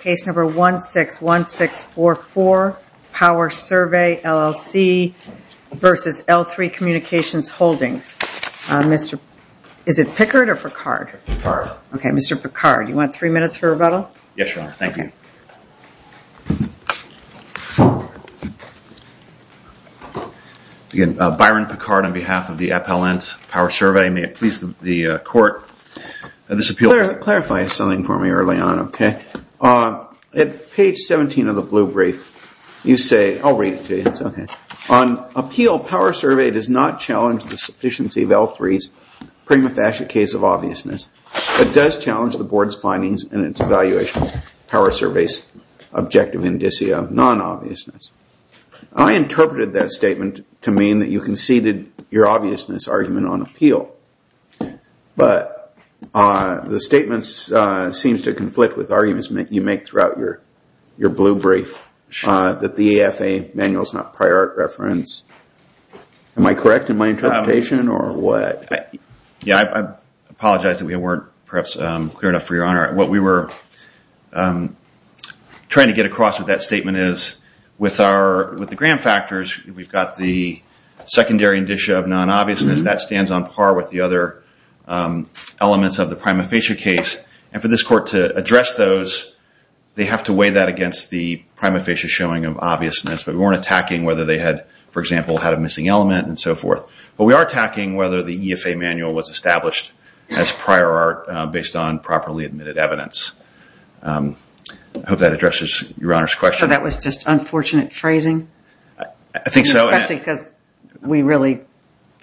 Case number 161644, Power Survey, LLC v. L-3 Communications Holdings. Mr. Picard, you want three minutes for rebuttal? Yes, Your Honor. Thank you. Byron Picard on behalf of the Appellant Office, Power Survey, may it please the Court, this appeal... Clarify something for me early on, okay? At page 17 of the blue brief, you say, I'll read it to you, it's okay. On appeal, Power Survey does not challenge the sufficiency of L-3's prima facie case of obviousness, but does challenge the Board's findings in its evaluation of Power Survey's objective indicia of non-obviousness. I interpreted that statement to mean that you conceded your argument on appeal, but the statement seems to conflict with arguments you make throughout your blue brief that the EFA manual is not prior art reference. Am I correct in my interpretation or what? Yeah, I apologize that we weren't perhaps clear enough for Your Honor. What we were trying to get across with that statement is with the grant factors, we've got the secondary indicia of non-obviousness, that stands on par with the other elements of the prima facie case, and for this Court to address those, they have to weigh that against the prima facie showing of obviousness, but we weren't attacking whether they had, for example, had a missing element and so forth. But we are attacking whether the EFA manual was established as prior art based on properly admitted evidence. I hope that addresses Your Honor's question. So that was just unfortunate phrasing? I think so. Especially because we really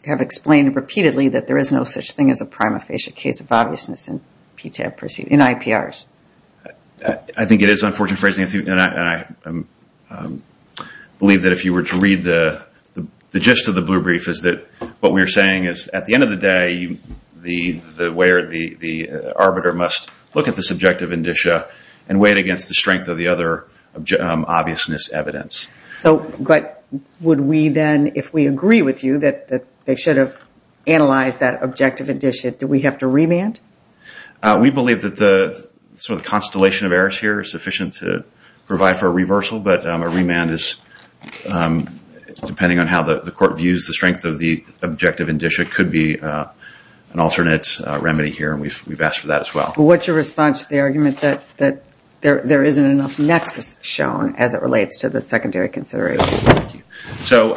have explained repeatedly that there is no such thing as a prima facie case of obviousness in IPRs. I think it is unfortunate phrasing and I believe that if you were to read the gist of the blue brief is that what we are saying is at the end of the day, the arbiter must look at this objective indicia and weigh it against the strength of the other obviousness evidence. But would we then, if we agree with you that they should have analyzed that objective indicia, do we have to remand? We believe that the constellation of errors here is sufficient to provide for a reversal, but a remand is, depending on how the Court views the strength of the objective indicia, could be an alternate remedy here. We have asked for that as well. What is your response to the argument that there isn't enough nexus shown as it relates to the secondary consideration? So,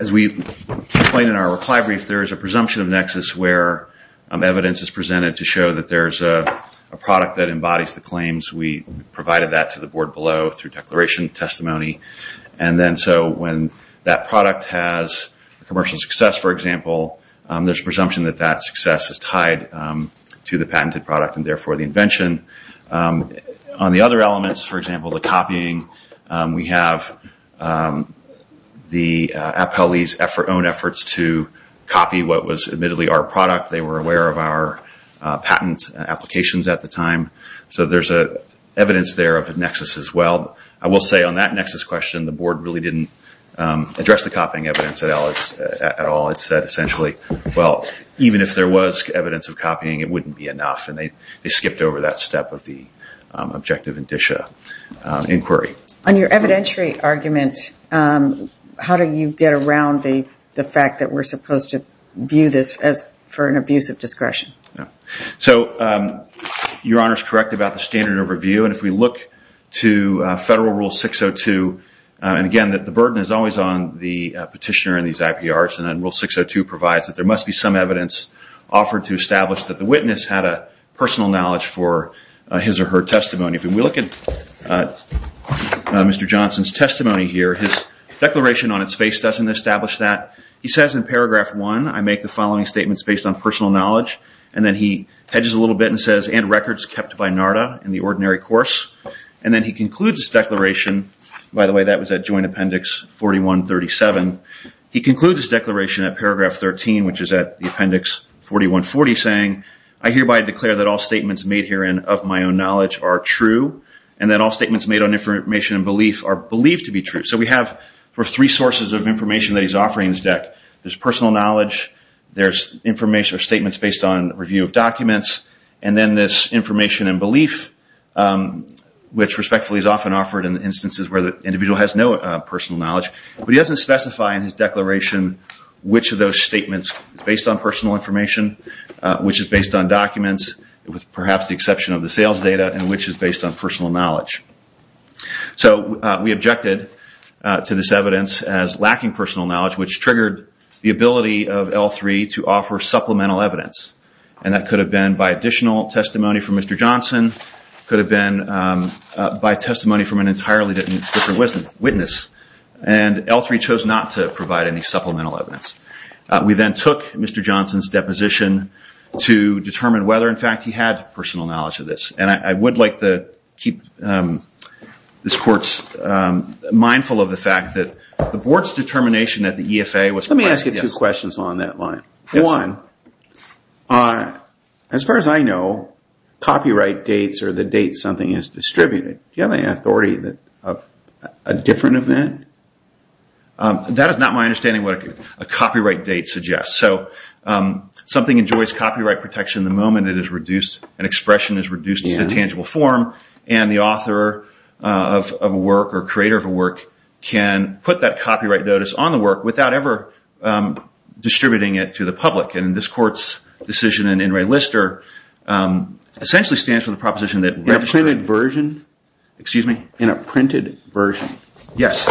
as we explained in our reply brief, there is a presumption of nexus where evidence is presented to show that there is a product that embodies the claims. We provided that to the Board below through declaration testimony. So when that product has commercial success, for example, there is a presumption that that success is tied to the patented product and therefore the invention. On the other elements, for example, the copying, we have the appellee's own efforts to copy what was admittedly our product. They were aware of our patent applications at the time. So there is evidence there of a nexus as well. I will say on that nexus question, the Board really didn't address the copying evidence at all. It said essentially, well, even if there was evidence of copying, it wouldn't be enough, and they skipped over that step of the objective indicia inquiry. On your evidentiary argument, how do you get around the fact that we are supposed to view this as for an abuse of discretion? Your Honor is correct about the standard overview. If we look to Federal Rule 602, the burden is always on the petitioner and these IPRs. Rule 602 provides that there must be some evidence offered to establish that the witness had a personal knowledge for his or her testimony. If we look at Mr. Johnson's testimony here, his declaration on its face doesn't establish that. He says in paragraph 1, I make the following statements based on personal knowledge. And then he hedges a little bit and says, and records kept by NARDA in the ordinary course. And then he concludes his declaration, by the way, that was at Joint Appendix 4137. He concludes his declaration at paragraph 13, which is at Appendix 4140, saying, I hereby declare that all statements made herein of my own knowledge are true, and that all statements made on information and belief are believed to be true. So we have three sources of information that he's offering in his deck. There's personal knowledge, there's information or statements based on review of documents, and then there's information and belief, which respectfully is often offered in instances where the individual has no personal knowledge. But he doesn't specify in his declaration which of those statements is based on personal information, which is based on documents, with perhaps the exception of the sales data, and which is based on personal knowledge. So we objected to this evidence as lacking personal knowledge, which triggered the ability of L3 to offer supplemental evidence. And that could have been by additional testimony from Mr. Johnson, could have been by testimony from an entirely different witness, and L3 chose not to provide any supplemental evidence. We then took Mr. Johnson's deposition to determine whether, in fact, he had personal knowledge of this. And I would like to keep this Court's mindful of the fact that the Board's determination at the EFA was... Let me ask you two questions along that line. One, as far as I know, copyright dates are the dates something is distributed. Do you have any authority of a different event? That is not my understanding of what a copyright date suggests. So something enjoys copyright protection the moment it is reduced, an expression is reduced to a tangible form, and the author of a work or creator of a work can put that copyright notice on the work without ever distributing it to the public. And this Court's decision in In Re Lister essentially stands for the proposition that... In a printed version? Excuse me? In a printed version? Yes.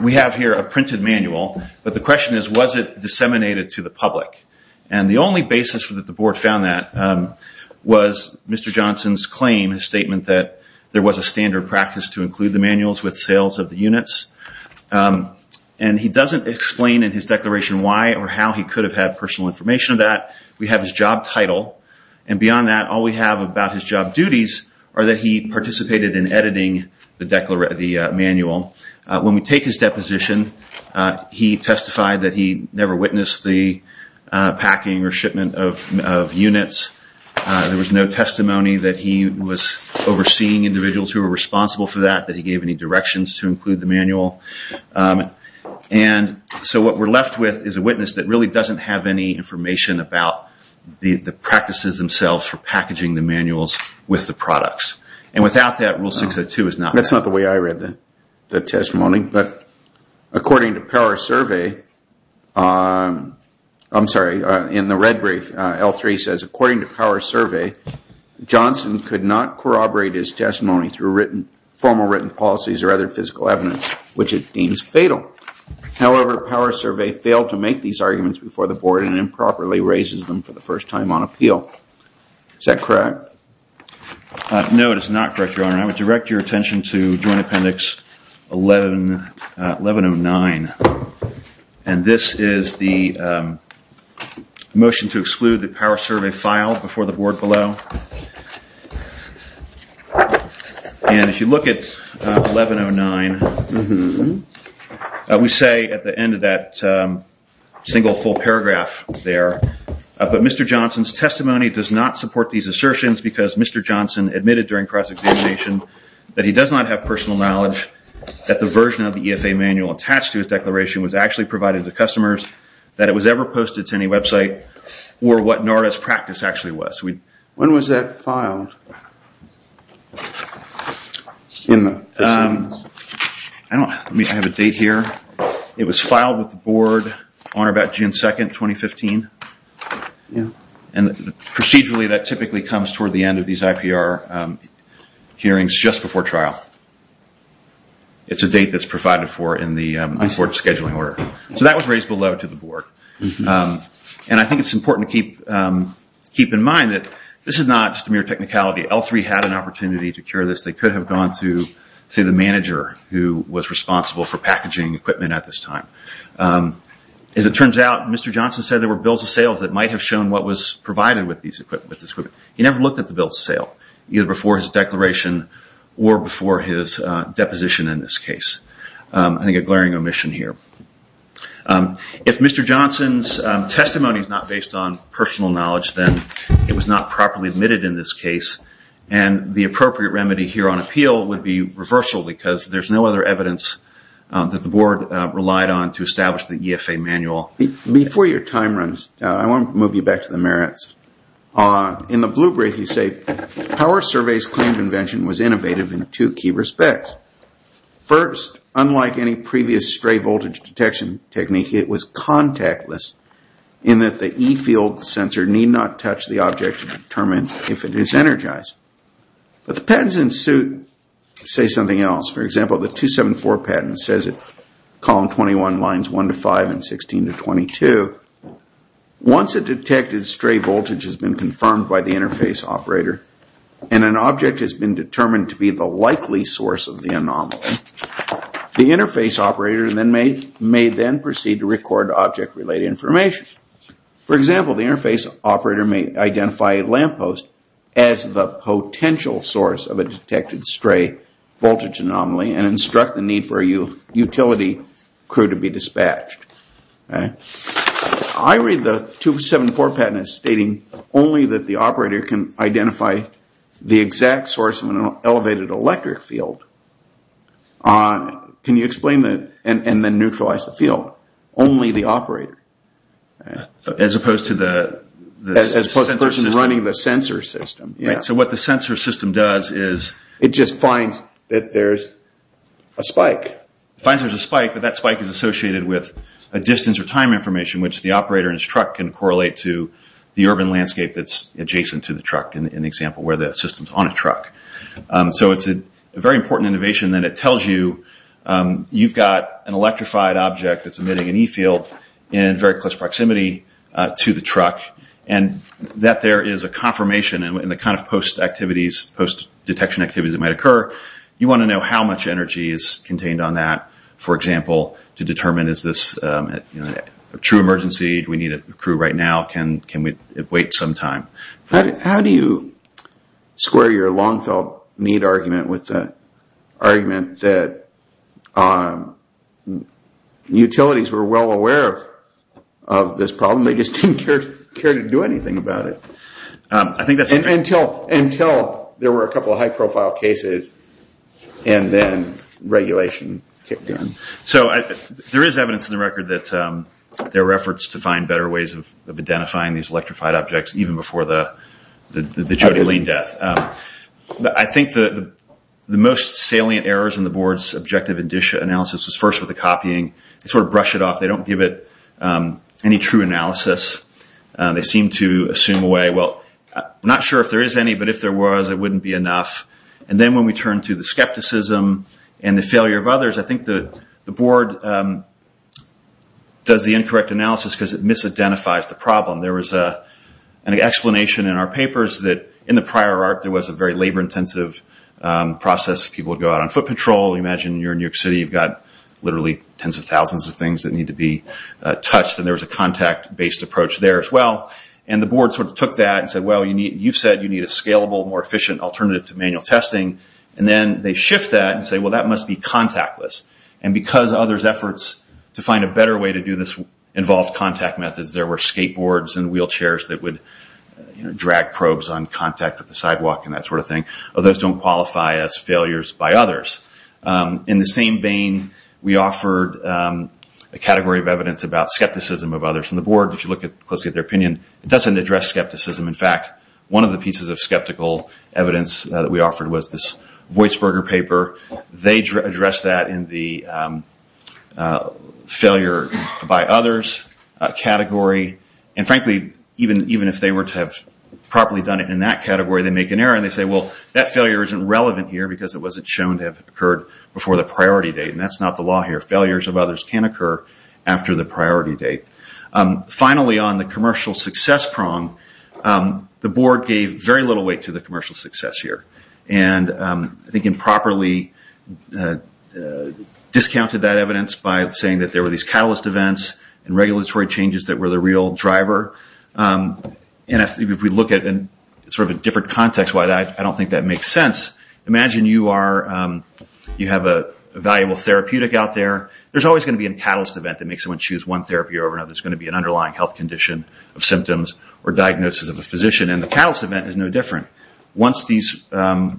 We have here a printed manual, but the question is, was it disseminated to the public? And the only basis that the Board found that was Mr. Johnson's claim, his statement that there was a standard practice to include the manuals with sales of the units. And he doesn't explain in his declaration why or how he could have had personal information of that. We have his job title, and beyond that, all we have about his job duties are that he participated in editing the manual. When we take his deposition, he testified that he never witnessed the packing or shipment of units. There was no testimony that he was overseeing individuals who were responsible for that, that he gave any directions to include the manual. And so what we're left with is a witness that really doesn't have any information about the practices themselves for packaging the manuals with the products. And without that, Rule 602 is not... That's not the way I read the testimony, but according to Power Survey... I'm sorry, I in the red brief, L3 says, according to Power Survey, Johnson could not corroborate his testimony through written, formal written policies or other physical evidence, which it deems fatal. However, Power Survey failed to make these arguments before the Board and improperly raises them for the first time on appeal. Is that correct? No, it is not correct, Your Honor. I would direct your attention to Joint Appendix 1109. And this is the motion to exclude the Power Survey file before the Board below. And if you look at 1109, we say at the end of that single full paragraph there, but Mr. Johnson's testimony does not support these assertions because Mr. Johnson admitted during cross-examination that he does not have personal knowledge that the version of the EFA manual attached to his declaration was actually provided to customers, that it was ever posted to any website, or what NARA's practice actually was. When was that filed? I have a date here. It was filed with the Board on or about June 2, 2015. And procedurally, that typically comes toward the end of these IPR hearings, just before trial. It's a date that's provided for in the Board's scheduling order. So that was raised below to the Board. And I think it's important to keep in mind that this is not just a mere technicality. L3 had an opportunity to cure this. They could have gone to, say, the manager who was responsible for packaging equipment at this time. As it turns out, Mr. Johnson said there were bills of sales that might have shown what was provided with this equipment. He never looked at the bills of sale, either before his declaration or before his deposition in this case. I think a glaring omission here. If Mr. Johnson's testimony is not based on personal knowledge, then it was not properly admitted in this case. And the appropriate remedy here on appeal would be reversal because there's no other evidence that the Board relied on to establish the EFA manual. Before your time runs out, I want to move you back to the merits. In the blue brief, you say power surveys claim convention was innovative in two key respects. First, unlike any previous stray voltage detection technique, it was contactless in that the E field sensor need not touch the object to determine if it is energized. But the patents in suit say something else. For example, the 274 patent says in column 21, lines 1 to 5 and 16 to 22, once a detected stray voltage has been confirmed by the interface operator and an object has been determined to be the likely source of the anomaly, the interface operator may then proceed to record object-related information. For example, the interface operator may identify a lamppost as the potential source of a detected stray voltage anomaly and instruct the need for a utility crew to be dispatched. I read the 274 patent as stating only that the operator can identify the exact source of an elevated electric field. Can you explain that and then neutralize the field? Only the operator? As opposed to the person running the sensor system? Yes. So what the sensor system does is... It just finds that there is a spike. It finds there is a spike, but that spike is associated with a distance or time information which the operator and his truck can correlate to the urban landscape that is adjacent to the truck, in the example where the system is on a truck. So it is a very important innovation and it tells you that you have an electrified object that is emitting an E-field in very close proximity to the truck and that there is a confirmation in the kind of post-detection activities that might occur. You want to know how much energy is contained on that, for example, to determine is this a true emergency, do we need a crew right now, can we wait some time. How do you square your long-felt need argument with the argument that utilities were well aware of this problem, they just didn't care to do anything about it? Until there were a couple of high-profile cases and then regulation kicked in. So there is evidence in the record that there were efforts to find better ways of identifying these electrified objects even before the Jody Lane death. I think the most salient errors in the board's objective analysis was first with the copying. They sort of brush it off, they don't give it any true analysis. They seem to assume away, well, I'm not sure if there is any, but if there was it wouldn't be enough. And then when we turn to the skepticism and the failure of others, I think the board does the incorrect analysis because it misidentifies the problem. There was an explanation in our papers that in the prior arc there was a very labor-intensive process. People would go out on foot patrol, imagine you're in New York City, you've got literally tens of thousands of things that need to be touched, and there was a contact-based approach there as well. And the board sort of took that and said, well, you said you need a scalable, more efficient alternative to manual testing, and then they shift that and say, well, that must be contactless. And because others' efforts to find a better way to do this involved contact methods, there were skateboards and wheelchairs that would drag probes on contact with the sidewalk and that sort of thing. Those don't qualify as failures by others. In the same vein, we offered a category of evidence about skepticism of others, and the board, if you look closely at their opinion, doesn't address skepticism. In fact, one of the pieces of skeptical evidence that we offered was this Weisberger paper. They addressed that in the failure by others category, and frankly, even if they were to have properly done it in that category, they make an error, and they say, well, that failure isn't relevant here because it wasn't shown to have occurred before the priority date, and that's not the law here. Failures of others can occur after the priority date. Finally on the commercial success prong, the board gave very little weight to the commercial success here. And I think improperly discounted that evidence by saying that there were these catalyst events and regulatory changes that were the real driver, and if we look at it in sort of a different context, I don't think that makes sense. Imagine you have a valuable therapeutic out there. There's always going to be a catalyst event that makes someone choose one therapy over another. There's going to be an underlying health condition of symptoms or diagnosis of a physician, and the catalyst event is no different. Once these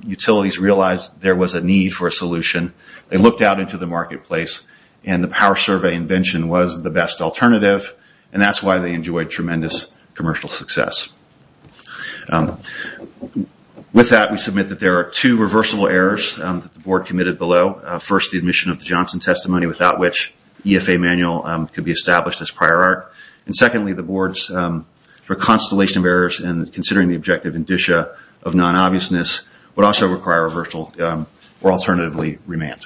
utilities realized there was a need for a solution, they looked out into the marketplace, and the power survey invention was the best alternative, and that's why they enjoyed tremendous commercial success. With that, we submit that there are two reversible errors that the board committed below. First, the admission of the Johnson testimony, without which EFA manual could be established as prior art. And secondly, the board's constellation of errors and considering the objective indicia of non-obviousness would also require a reversal or alternatively remand.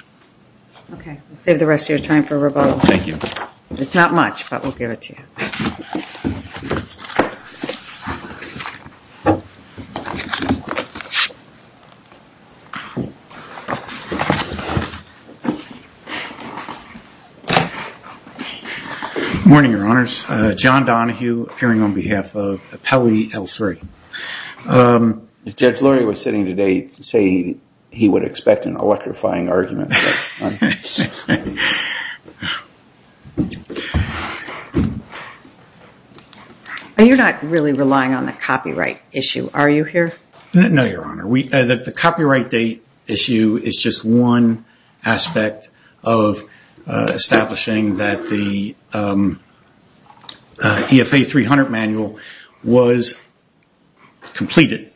Okay. We'll save the rest of your time for rebuttal. Thank you. It's not much, but we'll give it to you. Good morning, your honors. John Donahue, appearing on behalf of Appellee L3. Judge Luria was sitting today saying he would expect an electrifying argument. You're not really relying on the copyright issue, are you here? No, your honor. The copyright date issue is just one aspect of establishing that the EFA 300 manual was completed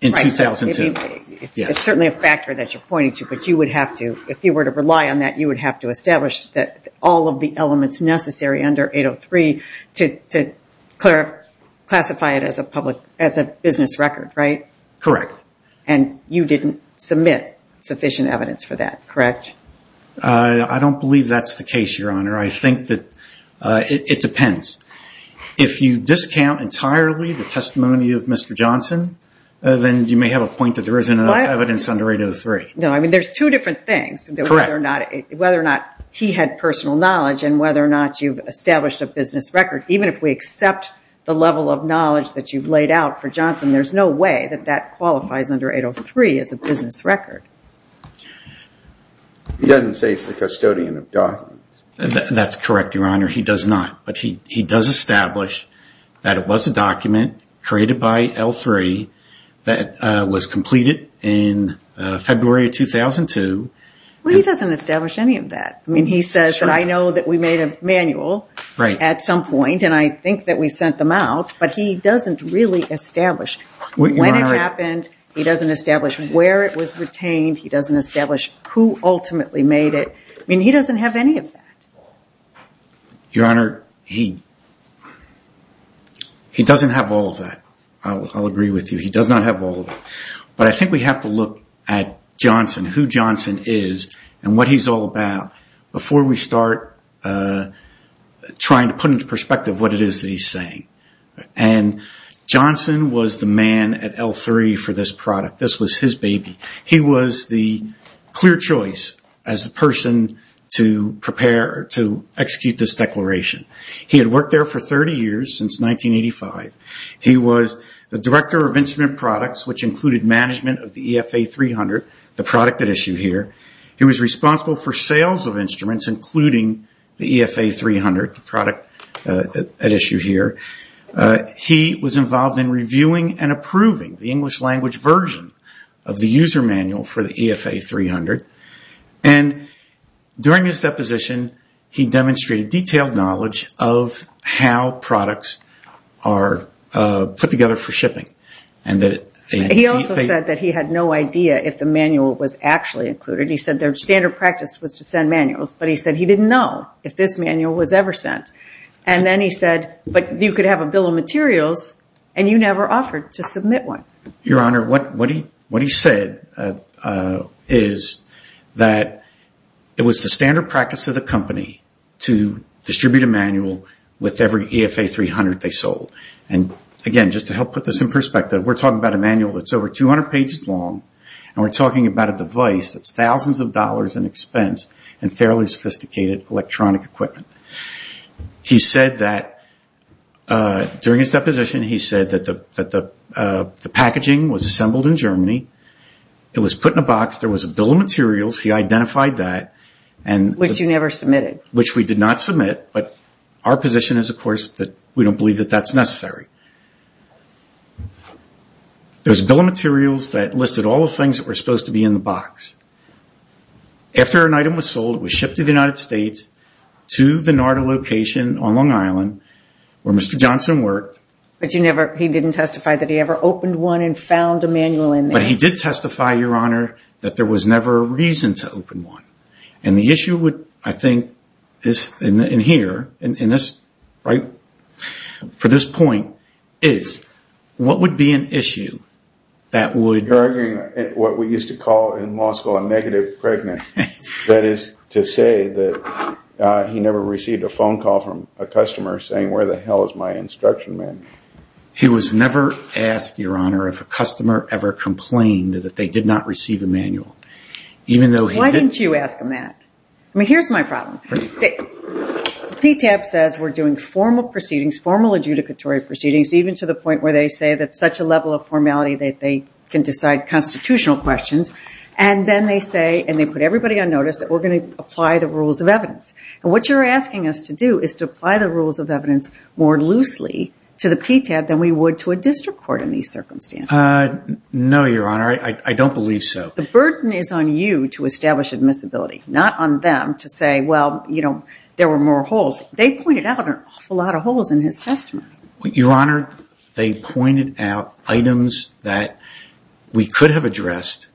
in 2002. It's certainly a factor that you're pointing to, but if you were to rely on that, you would have to establish that all of the elements necessary under 803 to classify it as a business record, right? Correct. And you didn't submit sufficient evidence for that, correct? I don't believe that's the case, your honor. I think that it depends. If you discount entirely the testimony of Mr. Johnson, then you may have a point that there isn't enough evidence under 803. There's two different things, whether or not he had personal knowledge and whether or not you've established a business record. Even if we accept the level of knowledge that you've laid out for Johnson, there's no way that that qualifies under 803 as a business record. He doesn't say he's the custodian of documents. That's correct, your honor. He does not, but he does establish that it was a document created by L3 that was completed in February of 2002. Well, he doesn't establish any of that. He says that I know that we made a manual at some point and I think that we sent them out, but he doesn't really establish when it happened. He doesn't establish where it was retained. He doesn't establish who ultimately made it. He doesn't have any of that. Your honor, he doesn't have all of that. I'll agree with you. He does not have all of it, but I think we have to look at Johnson, who Johnson is and what he's all about before we start trying to put into perspective what it is that he's saying. Johnson was the man at L3 for this product. This was his baby. He was the clear choice as the person to prepare to execute this declaration. He had worked there for 30 years since 1985. He was the director of instrument products, which included management of the EFA 300, the product at issue here. He was responsible for sales of instruments, including the EFA 300, the product at issue here. He was involved in reviewing and approving the English language version of the user manual for the EFA 300. During his deposition, he demonstrated detailed knowledge of how products are put together for shipping. He also said that he had no idea if the manual was actually included. He said their standard practice was to send manuals, but he said he didn't know if this manual was ever sent. Then he said, but you could have a bill of materials and you never offered to submit one. Your Honor, what he said is that it was the standard practice of the company to distribute a manual with every EFA 300 they sold. Again, just to help put this in perspective, we're talking about a manual that's over 200 pages long, and we're talking about a device that's thousands of dollars in expense and fairly sophisticated electronic equipment. During his deposition, he said that the packaging was assembled in Germany. It was put in a box. There was a bill of materials. He identified that. Which you never submitted. Which we did not submit, but our position is, of course, that we don't believe that that's necessary. There's a bill of materials that listed all the things that were supposed to be in the box. After an item was sold, it was shipped to the United States to the NARDA location on Long Island, where Mr. Johnson worked. He didn't testify that he ever opened one and found a manual in there. He did testify, Your Honor, that there was never a reason to open one. The issue, I think, in here, for this point, is what would be an issue that would... You're arguing what we used to call in law school a negative pregnancy. That is to say that he never received a phone call from a customer saying, where the hell is my instruction He was never asked, Your Honor, if a customer ever complained that they did not receive a manual. Why didn't you ask him that? I mean, here's my problem. PTAB says we're doing formal proceedings, formal adjudicatory proceedings, even to the point where they say that such a level of formality that they can decide constitutional questions, and then they say, and they put everybody on notice, that we're going to apply the rules of evidence. What you're asking us to do is to apply the rules of evidence more loosely to the PTAB than we would to a district court in these circumstances. No, Your Honor. I don't believe so. The burden is on you to establish admissibility, not on them to say, well, you know, there were more holes. They pointed out an awful lot of holes in his testimony. Your Honor, they pointed out items that we could have addressed,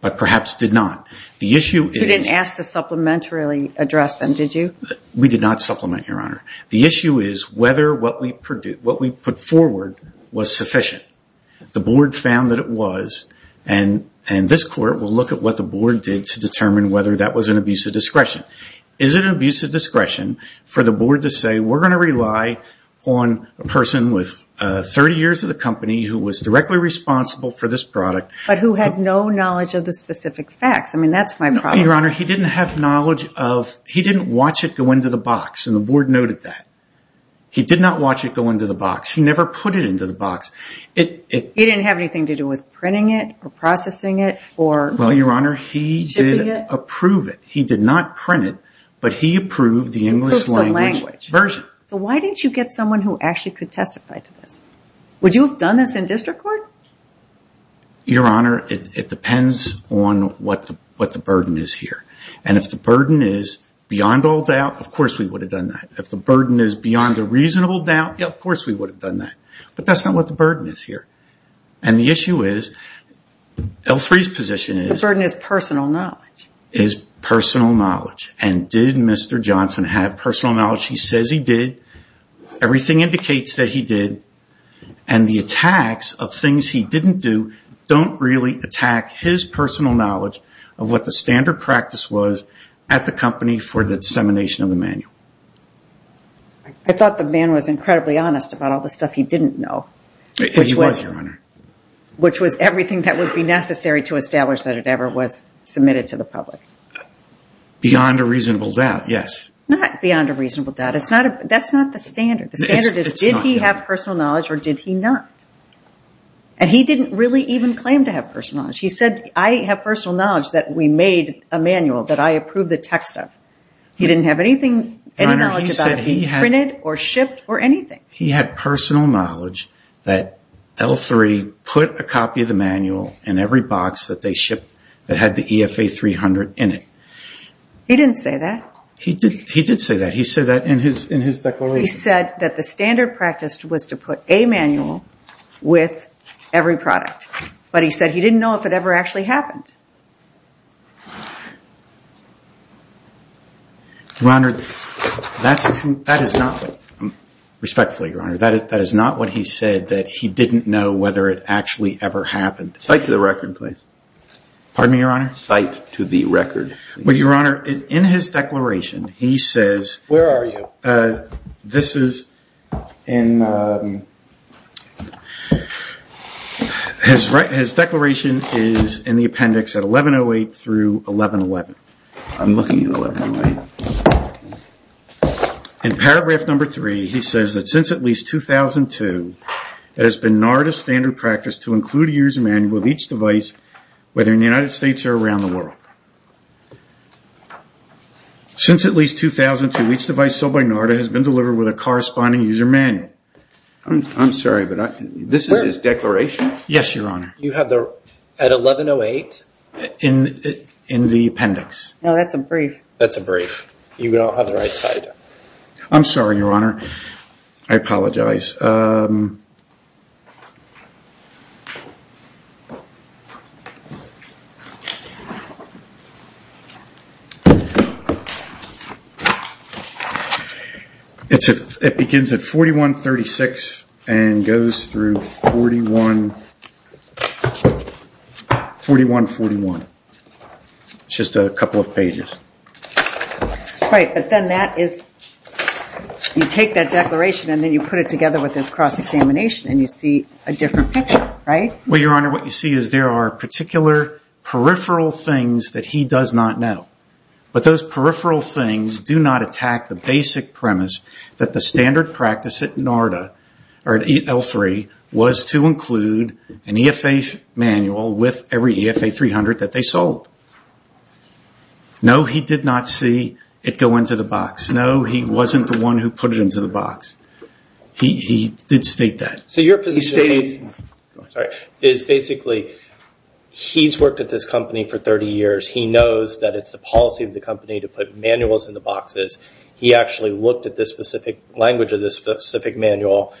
but perhaps did not. The issue is... You didn't ask to supplementarily address them, did you? We did not supplement, Your Honor. The issue is whether what we put forward was sufficient. The board found that it was, and this court will look at what the board did to determine whether that was an abuse of discretion. Is it an abuse of discretion for the board to say we're going to rely on a person with 30 years of the company who was directly responsible for this product... But who had no knowledge of the specific facts. I mean, that's my problem. Your Honor, he didn't have knowledge of... He didn't watch it go into the box, and the board noted that. He did not watch it go into the box. He never put it into the box. He didn't have anything to do with printing it, or processing it, or shipping it? Well, Your Honor, he did approve it. He did not print it, but he approved the English language version. So why didn't you get someone who actually could testify to this? Would you have done this in district court? Your Honor, it depends on what the burden is here. And if the burden is beyond all doubt, of course we would have done that. If the burden is beyond a reasonable doubt, of course we would have done that. But that's not what the burden is here. And the issue is, L3's position is... The burden is personal knowledge. Is personal knowledge. And did Mr. Johnson have personal knowledge? He says he did. Everything indicates that he did. And the attacks of things he didn't do don't really attack his personal knowledge of what the standard practice was at the company for the dissemination of the manual. I thought the man was incredibly honest about all the stuff he didn't know. He was, Your Honor. Which was everything that would be necessary to establish that it ever was submitted to the public. Beyond a reasonable doubt, yes. Not beyond a reasonable doubt. That's not the standard. The standard is, did he have personal knowledge or did he not? And he didn't really even claim to have personal knowledge. He said, I have personal knowledge that we made a manual that I approved the text of. He didn't have any knowledge about it being printed or shipped or anything. He had personal knowledge that L3 put a copy of the manual in every box that they shipped that had the EFA 300 in it. He didn't say that. He did say that. He said that in his declaration. He said that the standard practice was to put a manual with every product. But he said he didn't know if it ever actually happened. Respectfully, Your Honor, that is not what he said, that he didn't know whether it actually ever happened. Cite to the record, please. Pardon me, Your Honor? Cite to the record. Well, Your Honor, in his declaration, he says... Where are you? This is in... His declaration is in the appendix at 1108 through 1111. I'm looking at 1108. In paragraph number three, he says that since at least 2002, it has been NARA's standard practice to include a user manual of each device, whether in the United States or around the world. Since at least 2002, each device sold by NARA has been delivered with a corresponding user manual. I'm sorry, but this is his declaration? Yes, Your Honor. You have the... At 1108? In the appendix. No, that's a brief. That's a brief. You don't have the right slide. I'm sorry, Your Honor. I apologize. It begins at 4136 and goes through 4141. It's just a couple of pages. Right, but then that is... You take that declaration and then you put it together with this cross-examination and you see a different picture, right? Your Honor, what you see is there are particular peripheral things that he does not know. But those peripheral things do not attack the basic premise that the standard practice at L3 was to include an EFA manual with every EFA 300 that they sold. No, he did not see it go into the box. No, he wasn't the one who put it into the box. He did state that. Your position is basically he's worked at this company for 30 years. He knows that it's the policy of the company to put manuals in the boxes. He actually looked at the specific language of the specific manual.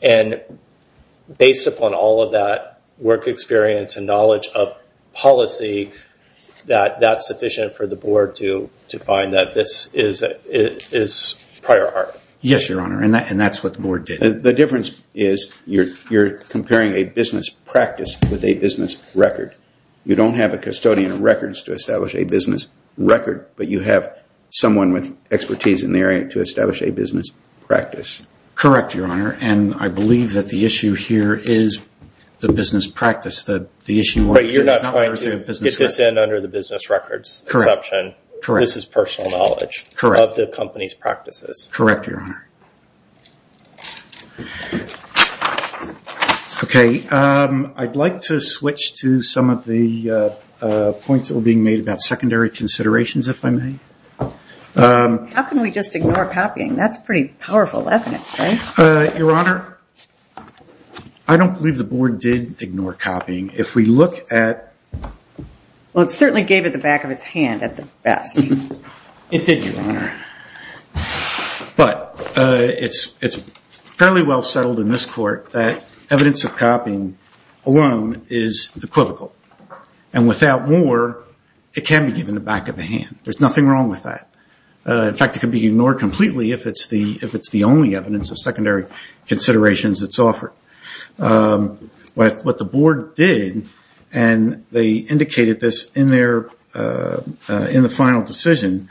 Based upon all of that work experience and knowledge of policy, that's sufficient for the board to find that this is prior art. Yes, Your Honor, and that's what the board did. The difference is you're comparing a business practice with a business record. You don't have a custodian of records to establish a business record, but you have someone with expertise in the area to establish a business practice. Correct, Your Honor, and I believe that the issue here is the business practice. You're not trying to get this in under the business records exception. This is personal knowledge of the company's practices. Correct, Your Honor. I'd like to switch to some of the points that were being made about secondary considerations, if I may. How can we just ignore copying? That's pretty powerful evidence, right? Your Honor, I don't believe the board did ignore copying. If we look at... It certainly gave it the back of its hand at the best. It did, Your Honor, but it's fairly well settled in this court that evidence of copying alone is equivocal, and without more, it can be given the back of the hand. There's nothing wrong with that. In fact, it can be ignored completely if it's the only evidence of secondary considerations that's offered. What the board did, and they indicated this in the final decision,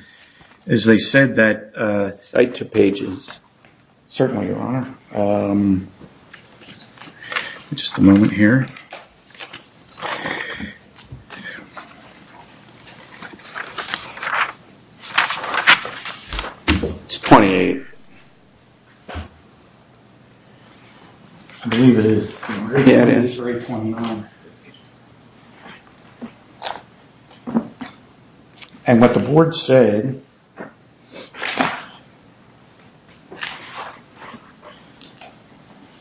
is they said that... Cite two pages. Certainly, Your Honor. Just a moment here. It's 28. I believe it is. Yeah, it is. And what the board said,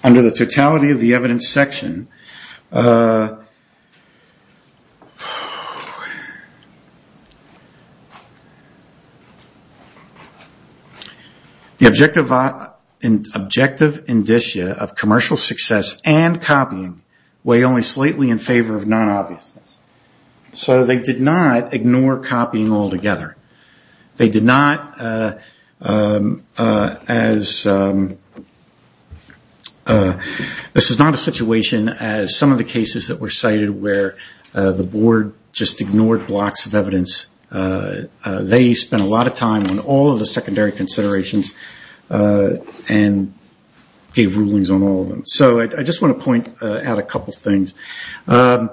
under the totality of the evidence section, uh... the objective indicia of commercial success and copying weigh only slightly in favor of non-obviousness. So they did not ignore copying altogether. They did not... This is not a situation as some of the cases that were cited where the board just ignored blocks of evidence. They spent a lot of time on all of the secondary considerations and gave rulings on all of them. So I just want to point out a couple things. Um...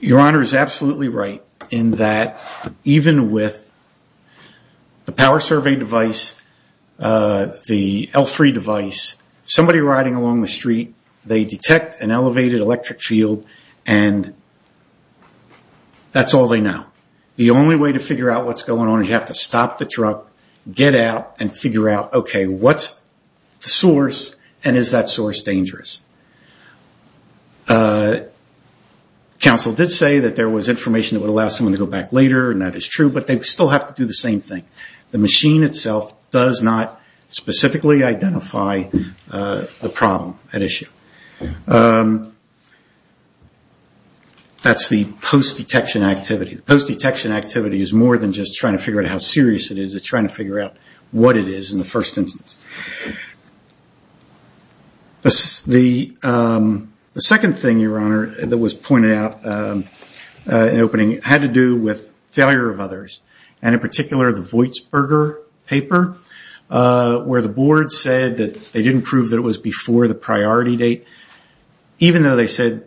Your Honor is absolutely right in that even with the power survey device, the L3 device, somebody riding along the street, they detect an elevated electric field and that's all they know. The only way to figure out what's going on is you have to stop the truck, get out, and figure out, okay, what's the source and is that source dangerous? Uh... Counsel did say that there was information that would allow someone to go back later and that is true, but they still have to do the same thing. The machine itself does not specifically identify the problem at issue. Um... That's the post-detection activity. The post-detection activity is more than just trying to figure out how serious it is. It's trying to figure out what it is in the first instance. Um... The second thing, Your Honor, that was pointed out in the opening had to do with failure of others. And in particular, the Voitsberger paper where the board said that they didn't prove that it was before the priority date, even though they said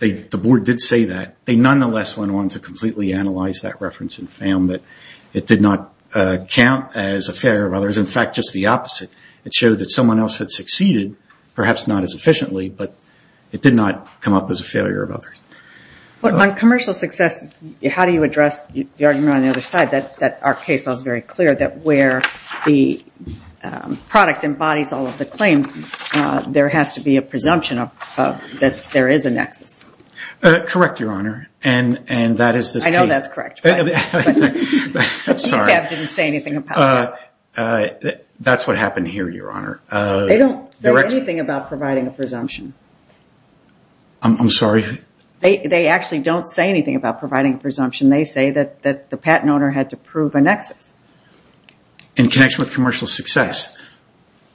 the board did say that, they nonetheless went on to completely analyze that reference and found that it did not count as a failure of others. In fact, just the opposite. It showed that someone else had succeeded, perhaps not as efficiently, but it did not come up as a failure of others. On commercial success, how do you address the argument on the other side that our case was very clear that where the product embodies all of the claims, there has to be a presumption of that there is a nexus. Correct, Your Honor. And that is this case. I know that's correct. That's what happened here, Your Honor. They don't say anything about providing a presumption. I'm sorry? They actually don't say anything about providing a presumption. They say that the patent owner had to prove a nexus. In connection with commercial success,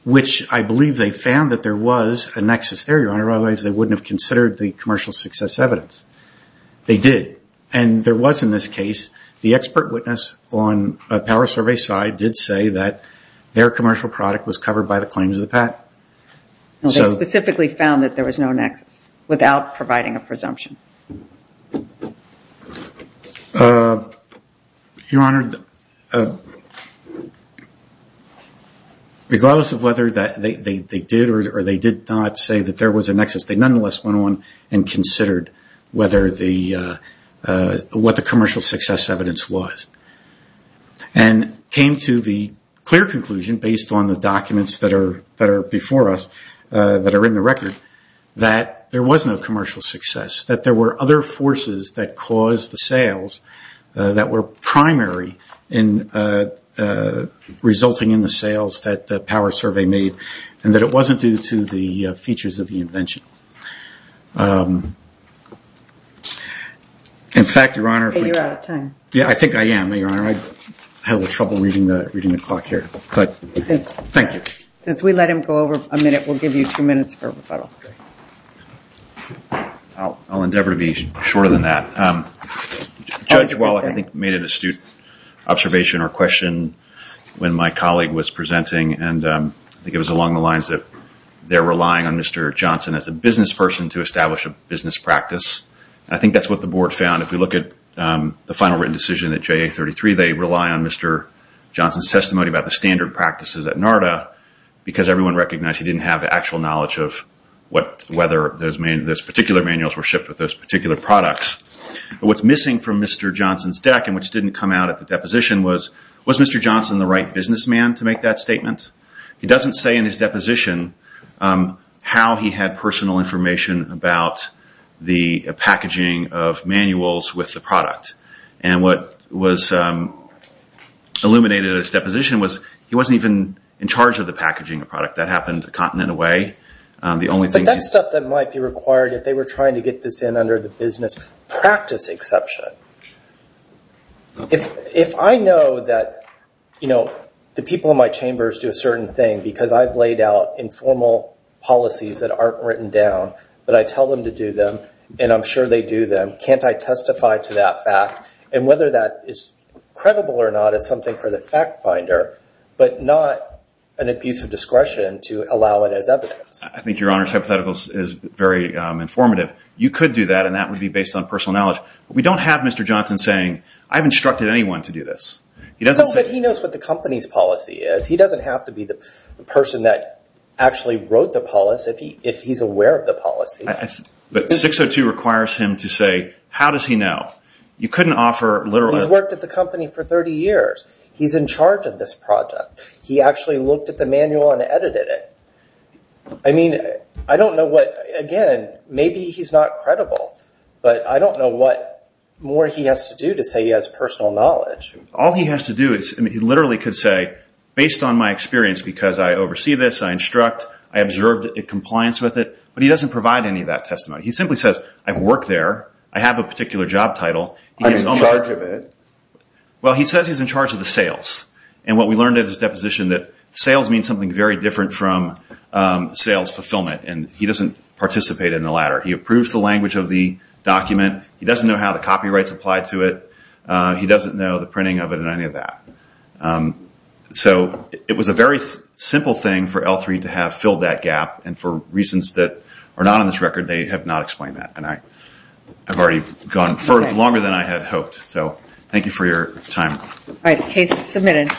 which I believe they found that there was a nexus there, Your Honor, otherwise they wouldn't have considered the commercial success evidence. They did. And there was in this case, the expert witness on a power survey side did say that their commercial product was covered by the claims of the patent. They specifically found that there was no nexus without providing a presumption. Your Honor, regardless of whether they did or they did not say that there was a nexus, they nonetheless went on and considered what the commercial success evidence was. And came to the clear conclusion, based on the documents that are before us, that are in the record, that there was no commercial success. That there were other forces that caused the sales that were primary in resulting in the sales. In fact, Your Honor. You're out of time. Yeah, I think I am, Your Honor. I had a little trouble reading the clock here. Thank you. As we let him go over a minute, we'll give you two minutes for rebuttal. I'll endeavor to be shorter than that. Judge Wallach, I think, made an astute observation or question when my colleague was presenting and I think it was along the lines that they're relying on Mr. Johnson as a business person to establish a business practice. I think that's what the board found. If we look at the final written decision at JA33, they rely on Mr. Johnson's testimony about the standard practices at NARDA because everyone recognized he didn't have the actual knowledge of whether those particular manuals were shipped with those particular products. What's missing from Mr. Johnson's deck and which didn't come out at the deposition was, was Mr. Johnson the right businessman to make that statement? He doesn't say in his deposition how he had personal information about the packaging of manuals with the product. And what was illuminated at his deposition was he wasn't even in charge of the packaging of the product. That happened a continent away. But that's stuff that might be required if they were trying to get this in under the business practice exception. If I know that, you know, the people in my chambers do a certain thing because I've laid out informal policies that aren't written down, but I tell them to do them and I'm sure they do them, can't I testify to that fact? And whether that is credible or not is something for the fact finder, but not an abuse of discretion to allow it as evidence. I think your Honor's hypothetical is very informative. You could do that and that would be based on personal knowledge. We don't have Mr. Johnson saying, I've instructed anyone to do this. No, but he knows what the company's policy is. He doesn't have to be the person that actually wrote the policy if he's aware of the policy. But 602 requires him to say, how does he know? You couldn't offer literally... He's worked at the company for 30 years. He's in charge of this project. He actually looked at the manual and edited it. I mean, I don't know what, again, maybe he's not credible, but I don't know what more he has to do to say he has personal knowledge. All he has to do is, he literally could say, based on my experience because I oversee this, I instruct, I observed compliance with it, but he doesn't provide any of that testimony. He simply says, I've worked there, I have a particular job title. I'm in charge of it. Well, he says he's in charge of the sales and what we learned at his deposition that sales means something very different from sales fulfillment and he doesn't participate in the latter. He approves the language of the document. He doesn't know how the copyrights apply to it. He doesn't know the printing of it or any of that. So it was a very simple thing for L3 to have filled that gap and for reasons that are not on this record, they have not explained that. And I've already gone further, longer than I had hoped. So thank you for your time. All right, the case is submitted.